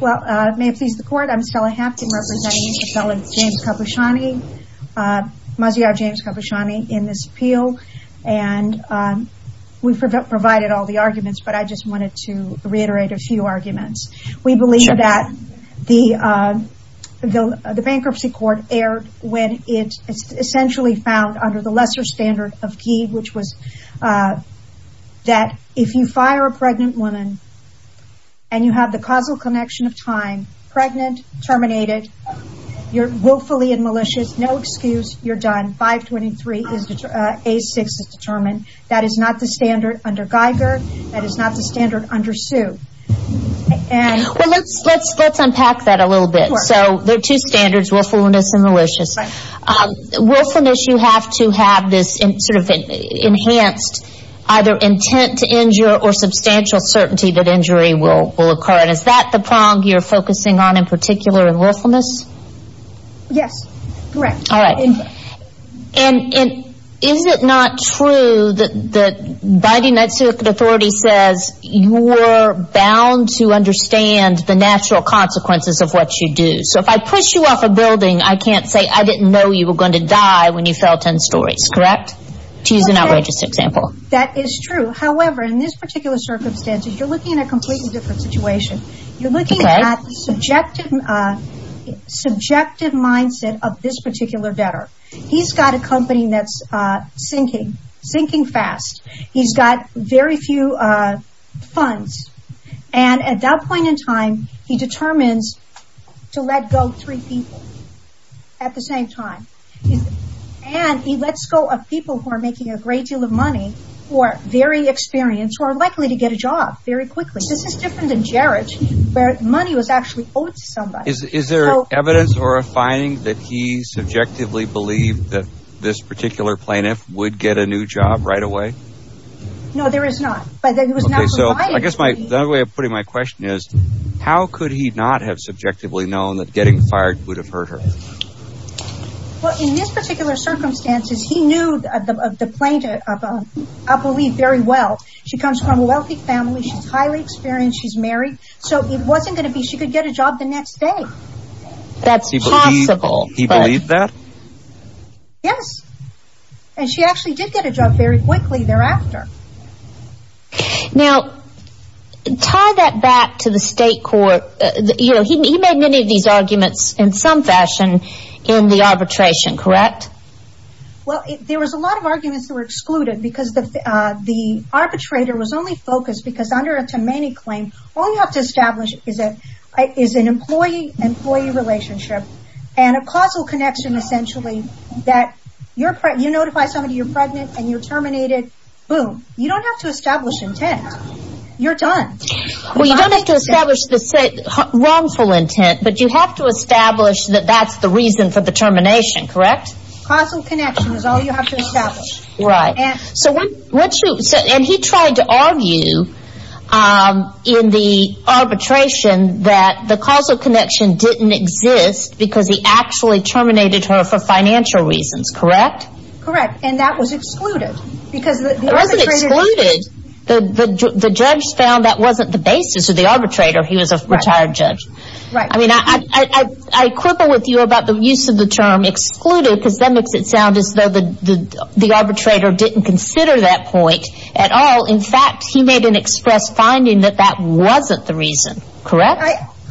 Well, may it please the court, I'm Stella Hapkin, representing Ms. James Khabushani, Maziar James Khabushani, in this appeal. And we've provided all the arguments, but I just wanted to reiterate a few arguments. We believe that the bankruptcy court erred when it essentially found under the lesser standard of key, which was that if you fire a pregnant woman and you have the causal connection of time, pregnant, terminated, you're willfully and malicious, no excuse, you're done, 523, A6 is determined. That is not the standard under Geiger, that is not the standard under Sue. Well, let's unpack that a little bit. So, there are two standards, willfulness and malicious. Willfulness, you have to have this sort of enhanced either intent to injure or substantial certainty that injury will occur. And is that the prong you're focusing on in particular in willfulness? Yes, correct. All right. And is it not true that the United States authorities says you're bound to understand the natural consequences of what you do. So, if I push you off a building, I can't say I didn't know you were going to die when you fell 10 stories, correct? To use an outrageous example. That is true. However, in this particular circumstance, you're looking at a completely different situation. You're looking at subjective mindset of this particular debtor. He's got a company that's sinking, sinking fast. He's got very few funds. And at that point in time, he determines to let go three people at the same time. And he lets go of people who are making a great deal of money, who are very experienced, who are likely to get a job very quickly. This is different than Jarrett, where money was actually owed to somebody. Is there evidence or a finding that he subjectively believed that this particular plaintiff would get a new job right away? No, there is not. But it was not provided to me. Okay. So, I guess the other way of putting my question is, how could he not have subjectively known that getting fired would have hurt her? Well, in this particular circumstances, he knew of the plaintiff, I believe, very well. She comes from a wealthy family. She's highly experienced. She's married. So, it wasn't going to be she could get a job the next day. That's possible. He believed that? Yes. And she actually did get a job very quickly thereafter. Now, tie that back to the state court. He made many of these arguments in some fashion in the arbitration, correct? Well, there was a lot of arguments that were excluded because the arbitrator was only focused because under a Tamani claim, all you have to establish is an employee-employee relationship and a causal connection, essentially, that you notify somebody you're pregnant and you're done. You don't have to establish intent. You're done. Well, you don't have to establish the wrongful intent, but you have to establish that that's the reason for the termination, correct? Causal connection is all you have to establish. Right. And he tried to argue in the arbitration that the causal connection didn't exist because he actually terminated her for financial reasons, correct? Correct. And that was excluded. It wasn't excluded. The judge found that wasn't the basis of the arbitrator. He was a retired judge. Right. I mean, I quibble with you about the use of the term excluded because that makes it sound as though the arbitrator didn't consider that point at all. In fact, he made an express finding that that wasn't the reason, correct?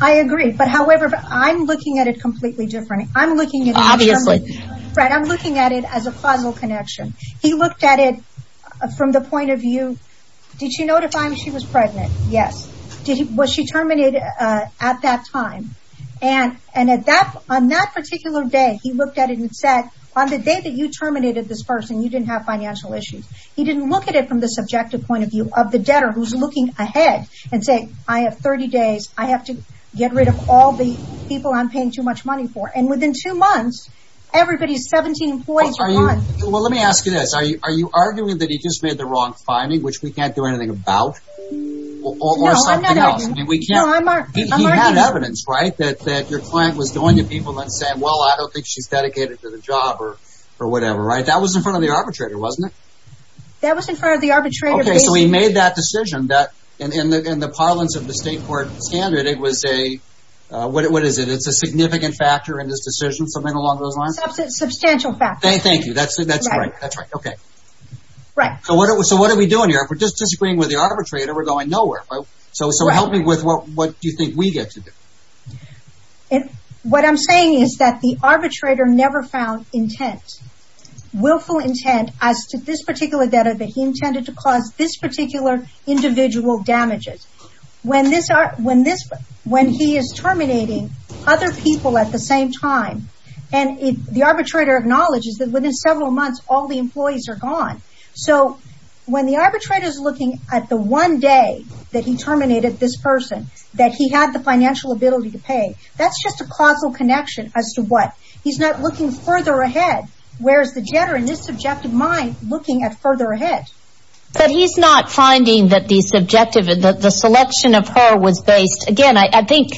I agree. But however, I'm looking at it completely differently. Obviously. Fred, I'm looking at it as a causal connection. He looked at it from the point of view, did she notify me she was pregnant? Yes. Was she terminated at that time? And on that particular day, he looked at it and said, on the day that you terminated this person, you didn't have financial issues. He didn't look at it from the subjective point of view of the debtor who's looking ahead and say, I have 30 days. I have to get rid of all the people I'm paying too much money for. And within two months, everybody's 17 employees are gone. Well, let me ask you this. Are you arguing that he just made the wrong finding, which we can't do anything about? No, I'm not arguing. Or something else? No, I'm arguing. He had evidence, right? That your client was going to people and then saying, well, I don't think she's dedicated to the job or whatever, right? That was in front of the arbitrator, wasn't it? That was in front of the arbitrator, basically. Okay, so he made that decision. In the parlance of the state court standard, it was a, what is it? It's a significant factor in this decision, something along those lines? Substantial factor. Thank you. That's right. Okay. Right. So what are we doing here? If we're just disagreeing with the arbitrator, we're going nowhere. So help me with what do you think we get to do? What I'm saying is that the arbitrator never found intent, willful intent as to this particular debtor that he intended to cause this particular individual damages. When this, when he is terminating other people at the same time, and the arbitrator acknowledges that within several months, all the employees are gone. So when the arbitrator is looking at the one day that he terminated this person, that he had the financial ability to pay, that's just a causal connection as to what? He's not looking further ahead. Where's the debtor in this subjective mind looking at further ahead? But he's not finding that the subjective, the selection of her was based, again, I think,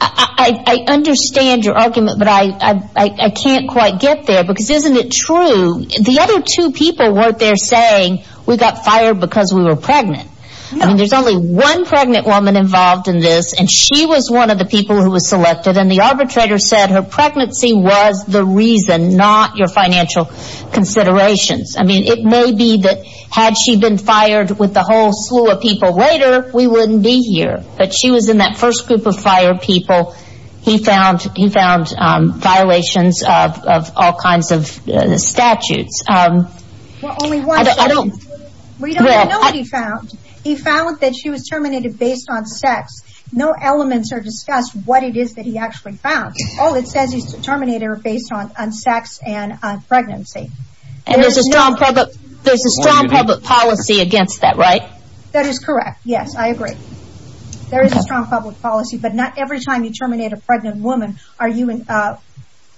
I understand your argument, but I can't quite get there, because isn't it true, the other two people weren't there saying we got fired because we were pregnant. I mean, there's only one pregnant woman involved in this, and she was one of the people who was selected, and the arbitrator said her pregnancy was the reason, not your financial considerations. I mean, it may be that had she been fired with the whole slew of people later, we wouldn't be here. But she was in that first group of fired people. He found violations of all kinds of statutes. Well, only one statute. We don't know what he found. He found that she was terminated based on sex. No elements are discussed what it is that he actually found. All it says is she's terminated based on sex and pregnancy. And there's a strong public policy against that, right? That is correct. Yes, I agree. There is a strong public policy, but not every time you terminate a pregnant woman are you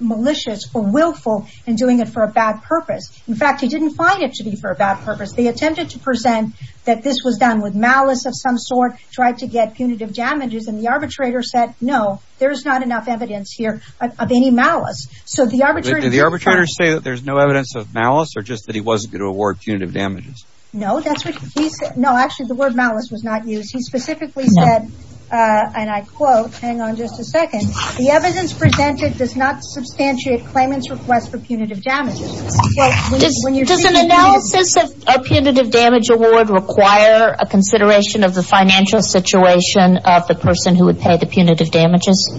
malicious or willful in doing it for a bad purpose. In fact, he didn't find it to be for a bad purpose. They attempted to present that this was done with malice of some sort, tried to get punitive damages, and the arbitrator said, no, there's not enough evidence here of any malice. Did the arbitrator say that there's no evidence of malice or just that he wasn't going to award punitive damages? No, that's what he said. No, actually, the word malice was not used. He specifically said, and I quote, hang on just a second, the evidence presented does not substantiate claimant's request for punitive damages. Does an analysis of a punitive damage award require a consideration of the financial situation of the person who would pay the punitive damages?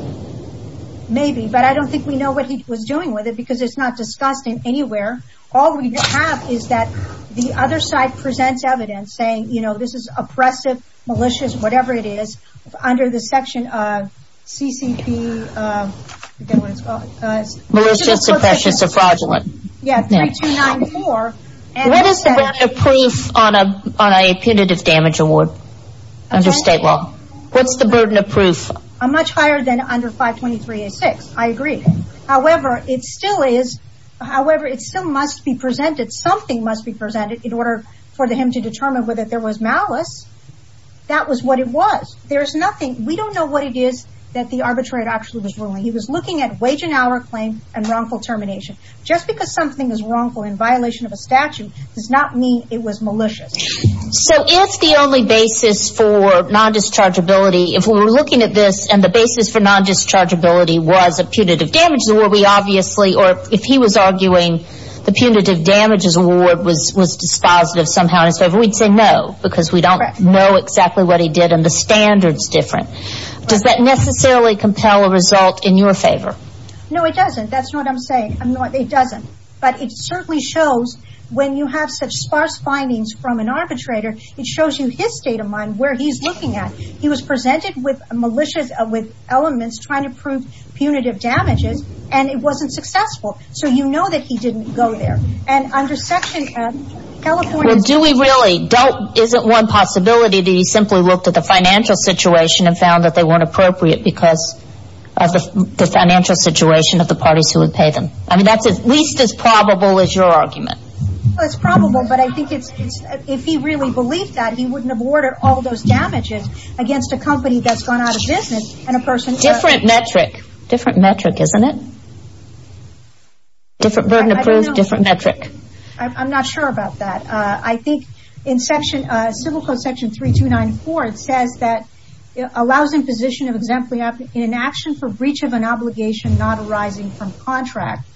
Maybe, but I don't think we know what he was doing with it because it's not discussed in anywhere. All we have is that the other side presents evidence saying, you know, this is oppressive, malicious, whatever it is, under the section of CCP, I forget what it's called. Malicious, oppressive, fraudulent. Yes, 3294. What is the burden of proof on a punitive damage award under state law? What's the burden of proof? Much higher than under 523A6, I agree. However, it still is, however, it still must be presented, something must be presented in order for him to determine whether there was malice. That was what it was. There's nothing, we don't know what it is that the arbitrator actually was ruling. He was looking at wage and hour claim and wrongful termination. Just because something is wrongful in violation of a statute does not mean it was malicious. So if the only basis for non-dischargeability, if we were looking at this and the basis for non-dischargeability was a punitive damages award, we obviously, or if he was arguing the punitive damages award was dispositive somehow in his favor, we'd say no because we don't know exactly what he did and the standard's different. Does that necessarily compel a result in your favor? No, it doesn't. That's not what I'm saying. It doesn't. But it certainly shows when you have such sparse findings from an arbitrator, it shows you his state of mind, where he's looking at. He was presented with malicious, with elements trying to prove punitive damages and it wasn't successful. So you know that he didn't go there. And under section California Well, do we really? Is it one possibility that he simply looked at the financial situation and found that they weren't appropriate because of the financial situation of the parties who would pay them? I mean, that's at least as probable as your argument. Well, it's probable, but I think it's, if he really believed that, he wouldn't have awarded all those damages against a company that's gone out of business and a person Different metric. Different metric, isn't it? Different burden to prove, different metric. I don't know. I'm not sure about that. I think in section, civil code section 3294, it says that it allows imposition of exemplary action for breach of an obligation not arising from contract,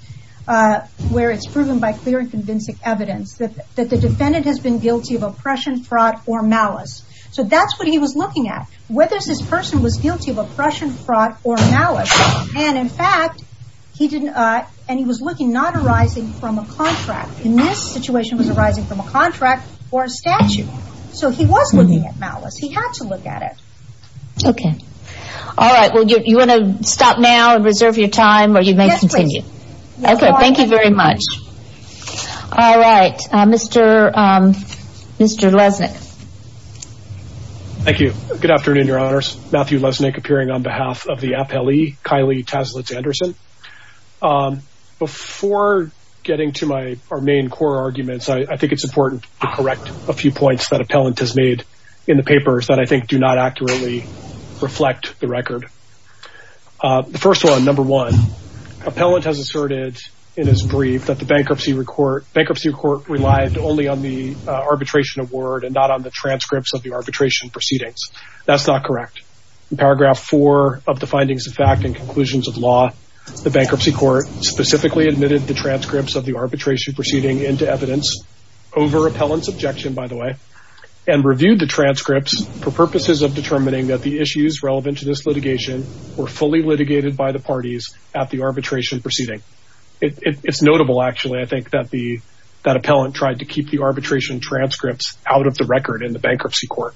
where it's proven by clear and convincing evidence that the defendant has been guilty of oppression, fraud, or malice. So that's what he was looking at. Whether this person was guilty of oppression, fraud, or malice. And in fact, he was looking not arising from a contract. In this situation, it was arising from a contract or a statute. So he was looking at malice. He had to look at it. Okay. All right. Well, you want to stop now and reserve your time or you may continue. Yes, please. Okay. Thank you very much. All right. Mr. Lesnick. Thank you. Good afternoon, Your Honors. Matthew Lesnick appearing on behalf of the appellee, Kylie Taslitz-Anderson. Before getting to our main core arguments, I think it's important to correct a few points that appellant has made in the papers that I think do not accurately reflect the record. The first one, number one, appellant has asserted in his brief that the bankruptcy court relied only on the arbitration award and not on the transcripts of the arbitration proceedings. That's not correct. In paragraph four of the findings of fact and conclusions of law, the bankruptcy court specifically admitted the transcripts of the arbitration proceeding into evidence over appellant's objection, by the way, and reviewed the transcripts for purposes of determining that the issues relevant to this litigation were fully litigated by the parties at the arbitration proceeding. It's notable, actually, I think, that appellant tried to keep the arbitration transcripts out of the record in the bankruptcy court.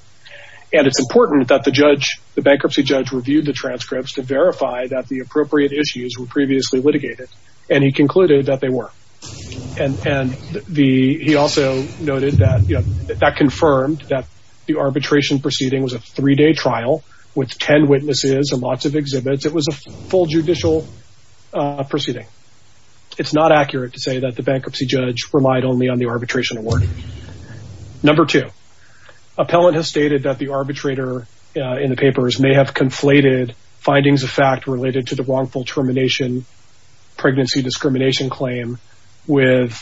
And it's important that the bankruptcy judge reviewed the transcripts to verify that the he also noted that, you know, that confirmed that the arbitration proceeding was a three-day trial with 10 witnesses and lots of exhibits. It was a full judicial proceeding. It's not accurate to say that the bankruptcy judge relied only on the arbitration award. Number two, appellant has stated that the arbitrator in the papers may have conflated findings of fact related to the wrongful termination pregnancy discrimination claim with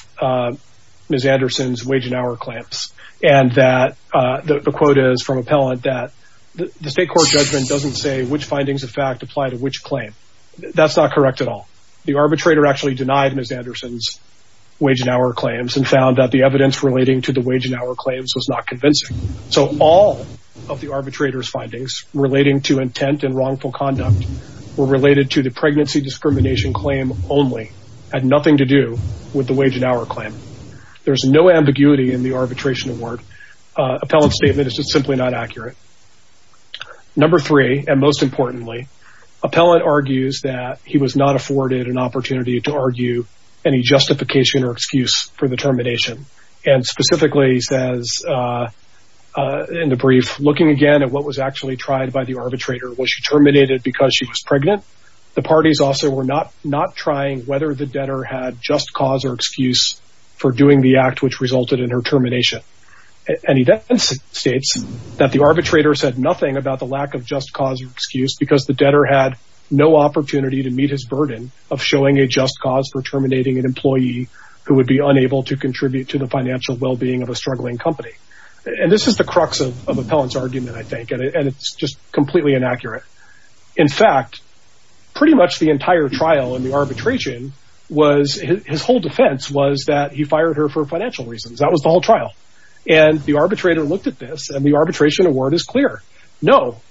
Ms. Anderson's wage and hour claims. And that the quote is from appellant that the state court judgment doesn't say which findings of fact apply to which claim. That's not correct at all. The arbitrator actually denied Ms. Anderson's wage and hour claims and found that the evidence relating to the wage and hour claims was not convincing. So all of the arbitrator's findings relating to intent and wrongful conduct were related to the pregnancy discrimination claim only, had nothing to do with the wage and hour claim. There's no ambiguity in the arbitration award. Appellant's statement is just simply not accurate. Number three, and most importantly, appellant argues that he was not afforded an opportunity to argue any justification or excuse for the termination. And specifically says in the brief, looking again at what was actually tried by the arbitrator, was she terminated because she was pregnant? The parties also were not not trying whether the debtor had just cause or excuse for doing the act which resulted in her termination. And he then states that the arbitrator said nothing about the lack of just cause or excuse because the debtor had no opportunity to meet his burden of showing a just cause for terminating an employee who would be unable to contribute to the financial well-being of a struggling company. And this is the crux of appellant's argument. And it's just completely inaccurate. In fact, pretty much the entire trial in the arbitration was his whole defense was that he fired her for financial reasons. That was the whole trial. And the arbitrator looked at this and the arbitration award is clear. No,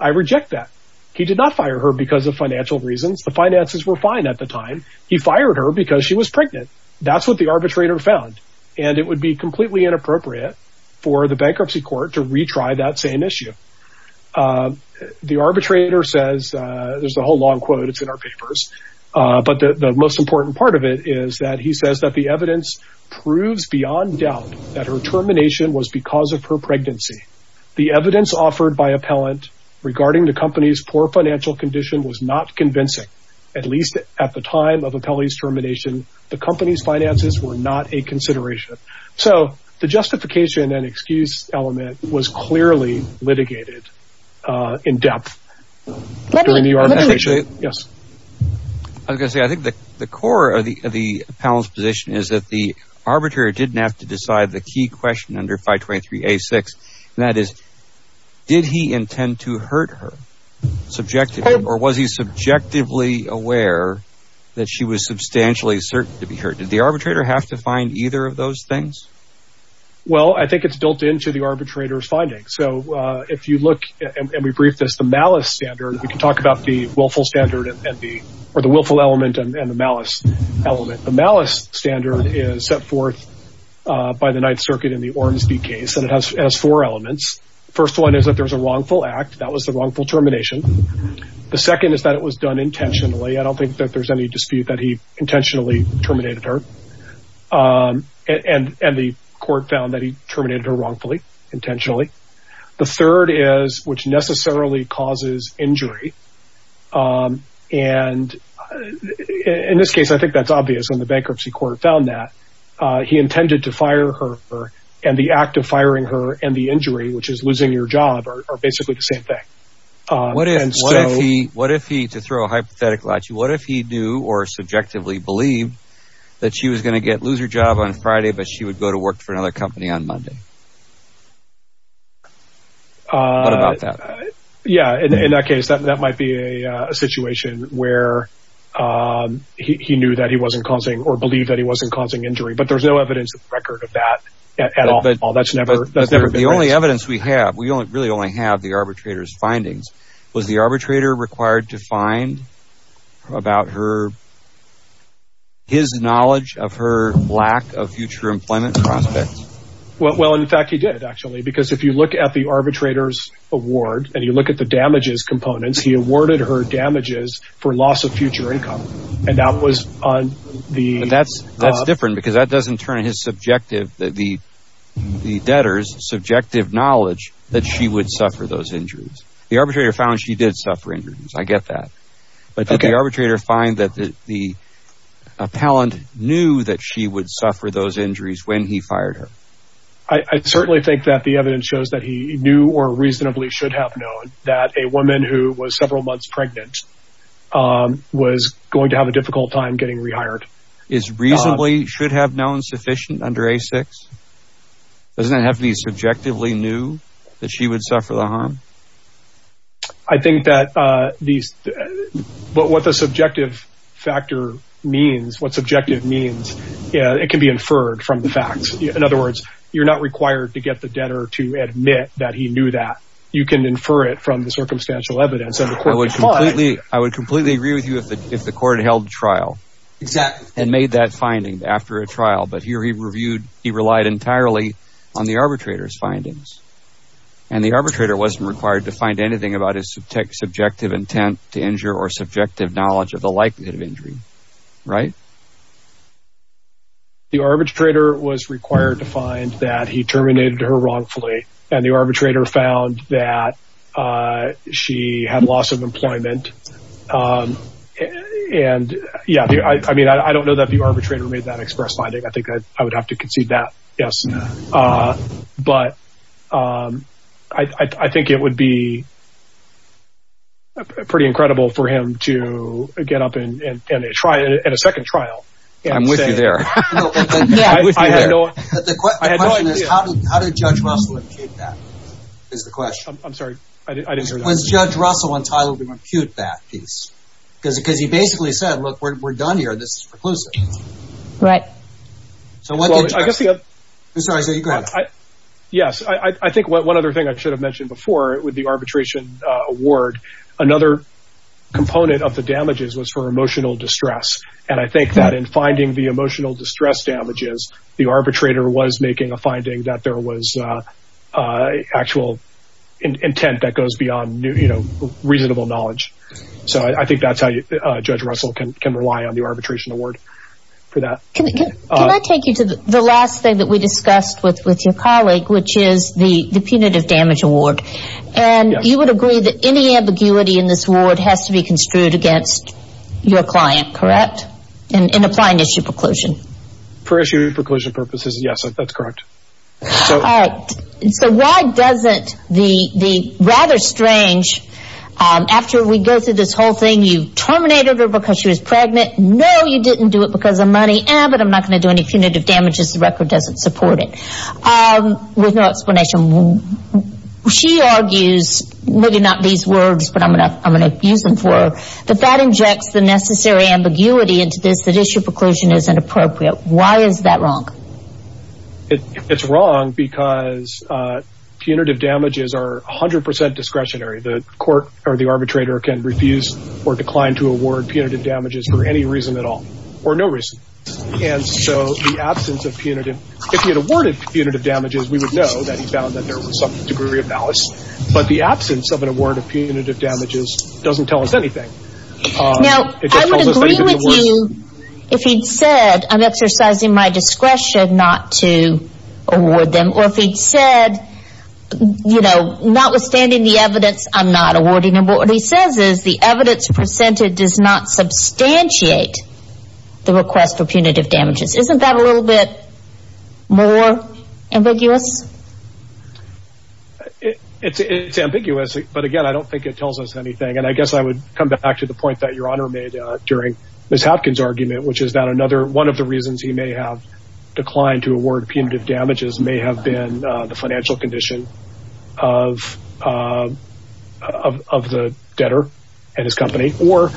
I reject that. He did not fire her because of financial reasons. The finances were fine at the time. He fired her because she was pregnant. That's what the arbitrator found. And it would be completely inappropriate for the bankruptcy court to retry that same issue. The arbitrator says there's a whole long quote. It's in our papers. But the most important part of it is that he says that the evidence proves beyond doubt that her termination was because of her pregnancy. The evidence offered by appellant regarding the company's poor financial condition was not convincing. At least at the time of the appellee's termination, the company's finances were not a consideration. So the justification and excuse element was clearly litigated in depth during the arbitration. I was going to say, I think the core of the appellant's position is that the arbitrator didn't have to decide the key question under 523A6. And that is, did he intend to hurt her? Or was he subjectively aware that she was substantially certain to be hurt? Did the arbitrator have to find either of those things? Well, I think it's built into the arbitrator's findings. So if you look, and we briefed this, the malice standard, we can talk about the willful element and the malice element. The malice standard is set forth by the Ninth Circuit in the Ormsby case, and it has four elements. First one is that there's a wrongful act. That was the wrongful termination. The second is that it was done intentionally. I don't think that there's any dispute that he intentionally terminated her. And the court found that he terminated her wrongfully, intentionally. The third is, which necessarily causes injury. And in this case, I think that's obvious when the bankruptcy court found that. He intended to fire her, and the act of firing her and the injury, which is losing your job, are basically the same thing. What if he, to throw a hypothetical at you, what if he knew or subjectively believed that she was going to lose her job on Friday, but she would go to work for another company on Monday? What about that? Yeah, in that case, that might be a situation where he knew that he wasn't causing, or believed that he wasn't causing injury. But there's no evidence to the record of that at all. The only evidence we have, we really only have the arbitrator's findings. Was the arbitrator required to find about her, his knowledge of her lack of future employment prospects? Well, in fact, he did, actually. Because if you look at the arbitrator's award, and you look at the damages components, he awarded her damages for loss of future income. And that was on the... That's different, because that doesn't turn his subjective, the debtor's subjective knowledge that she would suffer those injuries. The arbitrator found she did suffer injuries, I get that. But did the arbitrator find that the appellant knew that she would suffer those injuries? I certainly think that the evidence shows that he knew or reasonably should have known that a woman who was several months pregnant was going to have a difficult time getting rehired. Is reasonably should have known sufficient under A-6? Doesn't it have to be subjectively knew that she would suffer the harm? I think that these, what the subjective factor means, what subjective means, it can be inferred from the facts. In other words, you're not required to get the debtor to admit that he knew that. You can infer it from the circumstantial evidence. I would completely agree with you if the court held trial. Exactly. And made that finding after a trial. But here he reviewed, he relied entirely on the arbitrator's findings. And the arbitrator wasn't required to find anything about his subjective intent to injure or subjective knowledge of the likelihood of injury. Right? The arbitrator was required to find that he terminated her wrongfully. And the arbitrator found that she had loss of employment. And yeah, I mean, I don't know that the arbitrator made that express finding. I think I would have to concede that. Yes. But I think it would be pretty incredible for him to get up and try it at a second trial. I'm with you there. I had no idea. The question is, how did Judge Russell impute that? I'm sorry, I didn't hear that. Was Judge Russell entitled to impute that piece? Because he basically said, look, we're done here. This is preclusive. Right. I'm sorry, go ahead. Yes, I think one other thing I should have mentioned before with the arbitration award, another component of the damages was for emotional distress. And I think that in finding the emotional distress damages, the arbitrator was making a finding that there was actual intent that goes beyond, you know, reasonable knowledge. So I think that's how Judge Russell can rely on the arbitration award for that. Can I take you to the last thing that we discussed with your colleague, which is the punitive damage award? Yes. And you would agree that any ambiguity in this award has to be construed against your client, correct? In applying issue preclusion. For issue preclusion purposes, yes, that's correct. All right. So why doesn't the rather strange, after we go through this whole thing, you didn't do it because of money, but I'm not going to do any punitive damages. The record doesn't support it. With no explanation. She argues, maybe not these words, but I'm going to use them for, that that injects the necessary ambiguity into this, that issue preclusion is inappropriate. Why is that wrong? It's wrong because punitive damages are 100 percent discretionary. The court or the arbitrator can refuse or decline to award punitive damages for any reason at all or no reason. And so the absence of punitive, if he had awarded punitive damages, we would know that he found that there was some degree of malice, but the absence of an award of punitive damages doesn't tell us anything. Now, I would agree with you if he'd said, I'm exercising my discretion not to award them, or if he'd said, you know, notwithstanding the evidence, I'm not awarding them. What he says is the evidence presented does not substantiate the request for punitive damages. Isn't that a little bit more ambiguous? It's ambiguous, but again, I don't think it tells us anything. And I guess I would come back to the point that Your Honor made during Ms. Hopkins' argument, which is that another one of the reasons he may have declined to award punitive damages may have been the financial condition of the debtor and his company, or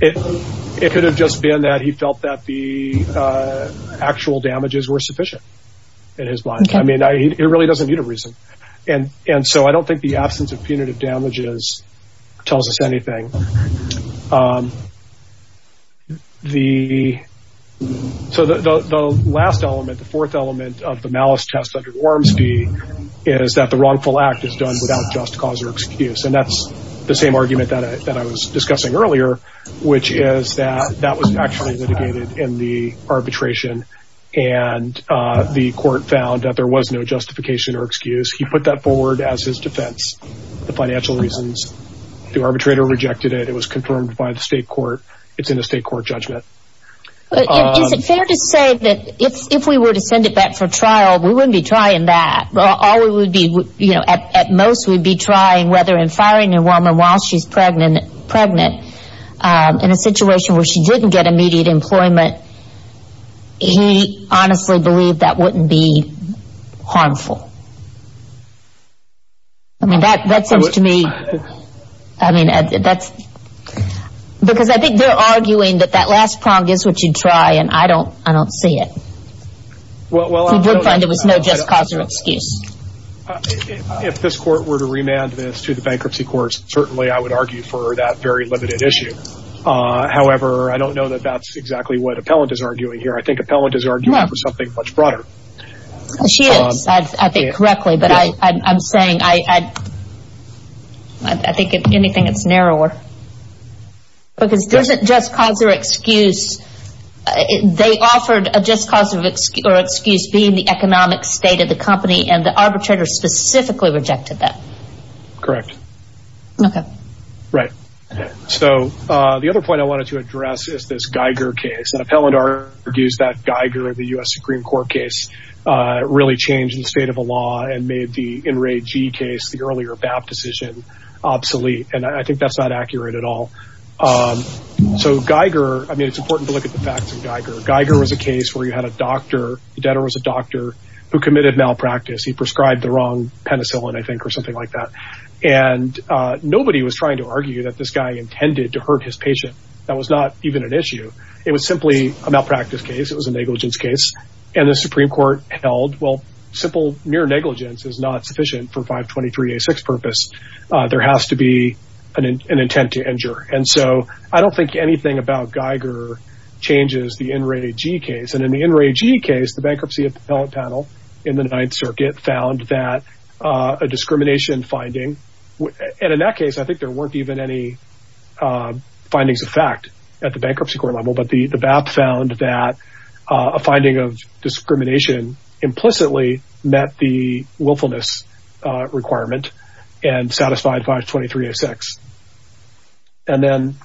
it could have just been that he felt that the actual damages were sufficient in his mind. I mean, it really doesn't need a reason. And so I don't think the absence of punitive damages tells us anything. So the last element, the fourth element of the malice test under Warmsby is that the wrongful act is done without just cause or excuse. And that's the same argument that I was discussing earlier, which is that that was actually litigated in the arbitration and the court found that there was no justification or excuse. He put that forward as his defense for financial reasons. The arbitrator rejected it. It was confirmed by the state court. It's in a state court judgment. Is it fair to say that if we were to send it back for trial, we wouldn't be trying that? At most, we'd be trying whether in firing a woman while she's pregnant in a situation where she didn't get immediate employment, he honestly believed that wouldn't be harmful. I mean, that seems to me, I mean, that's, because I think they're arguing that that last prong is what you'd try, and I don't see it. He did find there was no just cause or excuse. If this court were to remand this to the bankruptcy courts, certainly I would argue for that very limited issue. However, I don't know that that's exactly what Appellant is arguing here. I think Appellant is arguing for something much broader. She is, I think, correctly. But I'm saying, I think if anything, it's narrower. Because there's a just cause or excuse. They offered a just cause or excuse being the economic state of the company, and the arbitrator specifically rejected that. Correct. Okay. Right. Okay. So, the other point I wanted to address is this Geiger case. And Appellant argues that Geiger, the U.S. Supreme Court case, really changed the state of the law and made the In Re G case, the earlier BAP decision, obsolete. And I think that's not accurate at all. So Geiger, I mean, it's important to look at the facts of Geiger. Geiger was a case where you had a doctor, the debtor was a doctor, who committed malpractice. He prescribed the something like that. And nobody was trying to argue that this guy intended to hurt his patient. That was not even an issue. It was simply a malpractice case. It was a negligence case. And the Supreme Court held, well, simple near negligence is not sufficient for 523 A6 purpose. There has to be an intent to injure. And so, I don't think anything about Geiger changes the In Re G case. And in the In Re G case, the bankruptcy appellate panel in the Ninth Circuit found that a discrimination finding, and in that case, I think there weren't even any findings of fact at the bankruptcy court level, but the BAP found that a finding of discrimination implicitly met the willfulness requirement and satisfied 523 A6. And then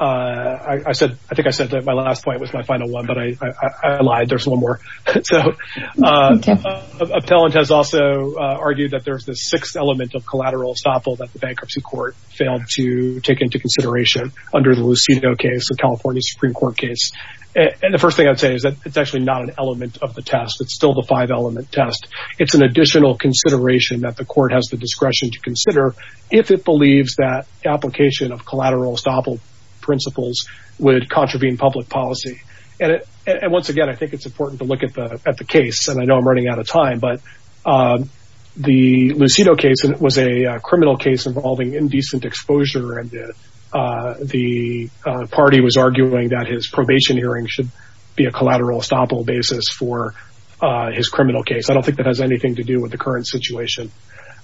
I said, I think I said that my last point was my final one, but I lied. There's one more. So, appellant has also argued that there's this sixth element of collateral estoppel that the bankruptcy court failed to take into consideration under the Luceno case, the California Supreme Court case. And the first thing I'd say is that it's actually not an element of the test. It's still the five element test. It's an additional consideration that the court has the discretion to consider if it And once again, I think it's important to look at the case. And I know I'm running out of time, but the Luceno case was a criminal case involving indecent exposure and the party was arguing that his probation hearing should be a collateral estoppel basis for his criminal case. I don't think that has anything to do with the current situation.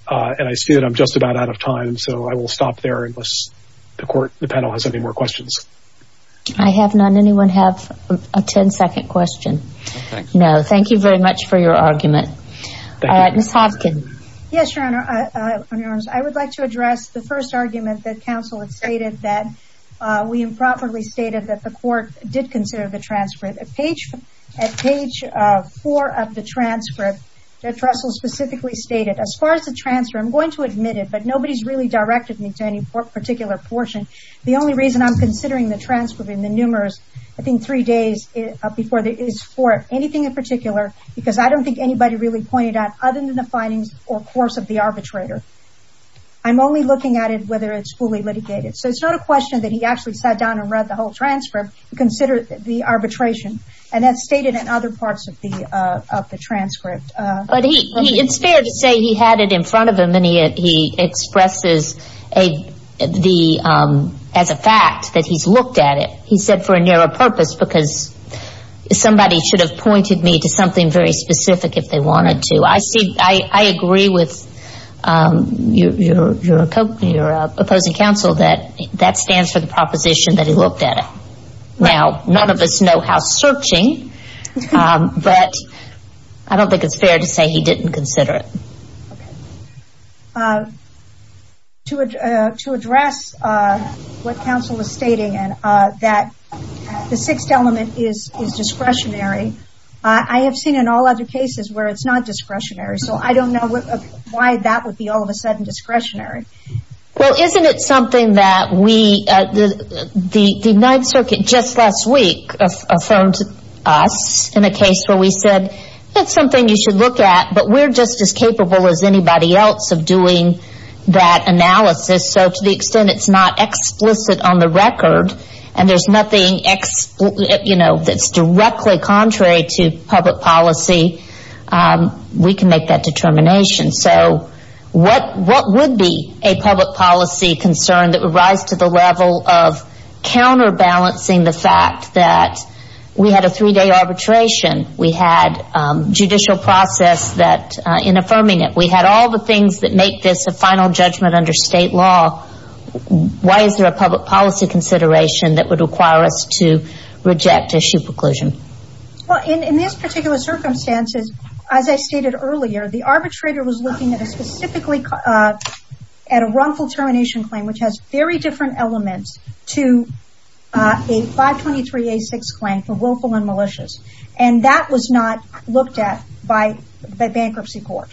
And I see that I'm just about out of time. So, I will stop there unless the panel has any more questions. I have none. Anyone have a ten-second question? No. Thank you very much for your argument. Ms. Hopkins. Yes, Your Honor. I would like to address the first argument that counsel had stated that we improperly stated that the court did consider the transfer. At page four of the transcript, that Russell specifically stated, as far as the transfer, I'm going to admit it, but nobody's really directed me to any particular portion. The only reason I'm considering the transcript in the numerous, I think, three days before it is for anything in particular, because I don't think anybody really pointed out other than the findings or course of the arbitrator. I'm only looking at it whether it's fully litigated. So, it's not a question that he actually sat down and read the whole transcript and considered the arbitration. And that's stated in other parts of the transcript. But it's fair to say he had it in front of him, and he expresses as a fact that he's looked at it, he said, for a narrow purpose, because somebody should have pointed me to something very specific if they wanted to. I see, I agree with your opposing counsel that that stands for the proposition that he looked at it. Now, none of us know how it's fair to say he didn't consider it. To address what counsel was stating, that the sixth element is discretionary, I have seen in all other cases where it's not discretionary. So, I don't know why that would be all of a sudden discretionary. Well, isn't it something that we, the Ninth Circuit just last week affirmed us in a case where we said, that's something you should look at, but we're just as capable as anybody else of doing that analysis. So, to the extent it's not explicit on the record, and there's nothing that's directly contrary to public policy, we can make that determination. So, what would be a public policy concern that would rise to the level of counterbalancing the fact that we had a three-day arbitration, we had judicial process in affirming it, we had all the things that make this a final judgment under state law, why is there a public policy consideration that would require us to reject issue preclusion? Well, in this particular circumstance, as I stated earlier, the arbitrator was looking at a runful termination claim, which has very different elements to a 523A6 claim for willful and malicious. And that was not looked at by bankruptcy court.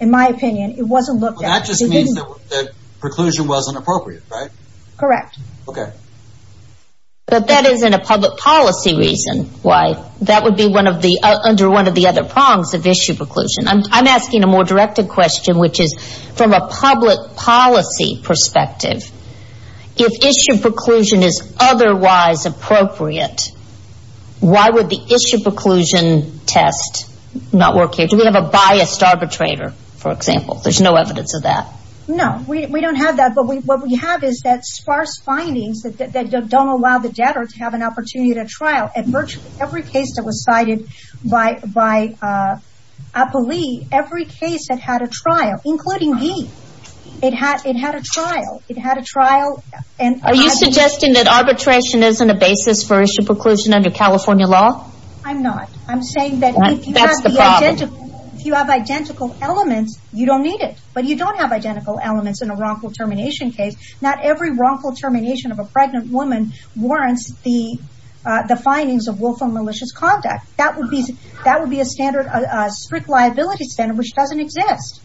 In my opinion, it wasn't looked at. Well, that just means that preclusion wasn't appropriate, right? Correct. Okay. But that isn't a public policy reason why. That would be under one of the other prongs of issue preclusion. I'm asking a more directed question, which is, from a public policy perspective, if issue preclusion is otherwise appropriate, why would the issue preclusion test not work here? Do we have a biased arbitrator, for example? There's no evidence of that. No, we don't have that. But what we have is that sparse findings that don't allow the every case that had a trial, including me, it had a trial. Are you suggesting that arbitration isn't a basis for issue preclusion under California law? I'm not. I'm saying that if you have identical elements, you don't need it. But you don't have identical elements in a runful termination case. Not every runful termination of a pregnant woman warrants the findings of willful and malicious conduct. That would be a strict liability standard, which doesn't exist.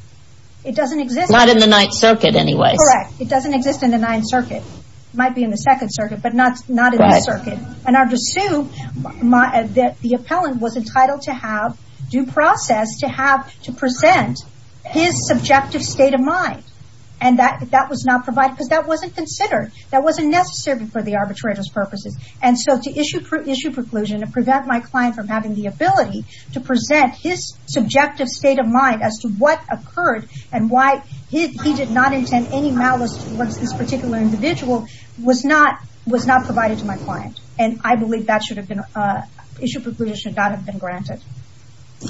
It doesn't exist. Not in the Ninth Circuit, anyway. Correct. It doesn't exist in the Ninth Circuit. It might be in the Second Circuit, but not in the Circuit. And under Sue, the appellant was entitled to have due process to present his subjective state of mind. And that was not provided because that wasn't considered. That wasn't necessary for the arbitrator's purposes. And so to issue preclusion to prevent my client from having the ability to present his subjective state of mind as to what occurred and why he did not intend any malice towards this particular individual was not provided to my client. And I believe that issue preclusion should not have been granted.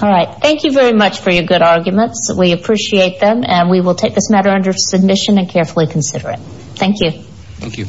All right. Thank you very much for your good arguments. We appreciate them. And we will take this matter under submission and carefully consider it. Thank you. Thank you.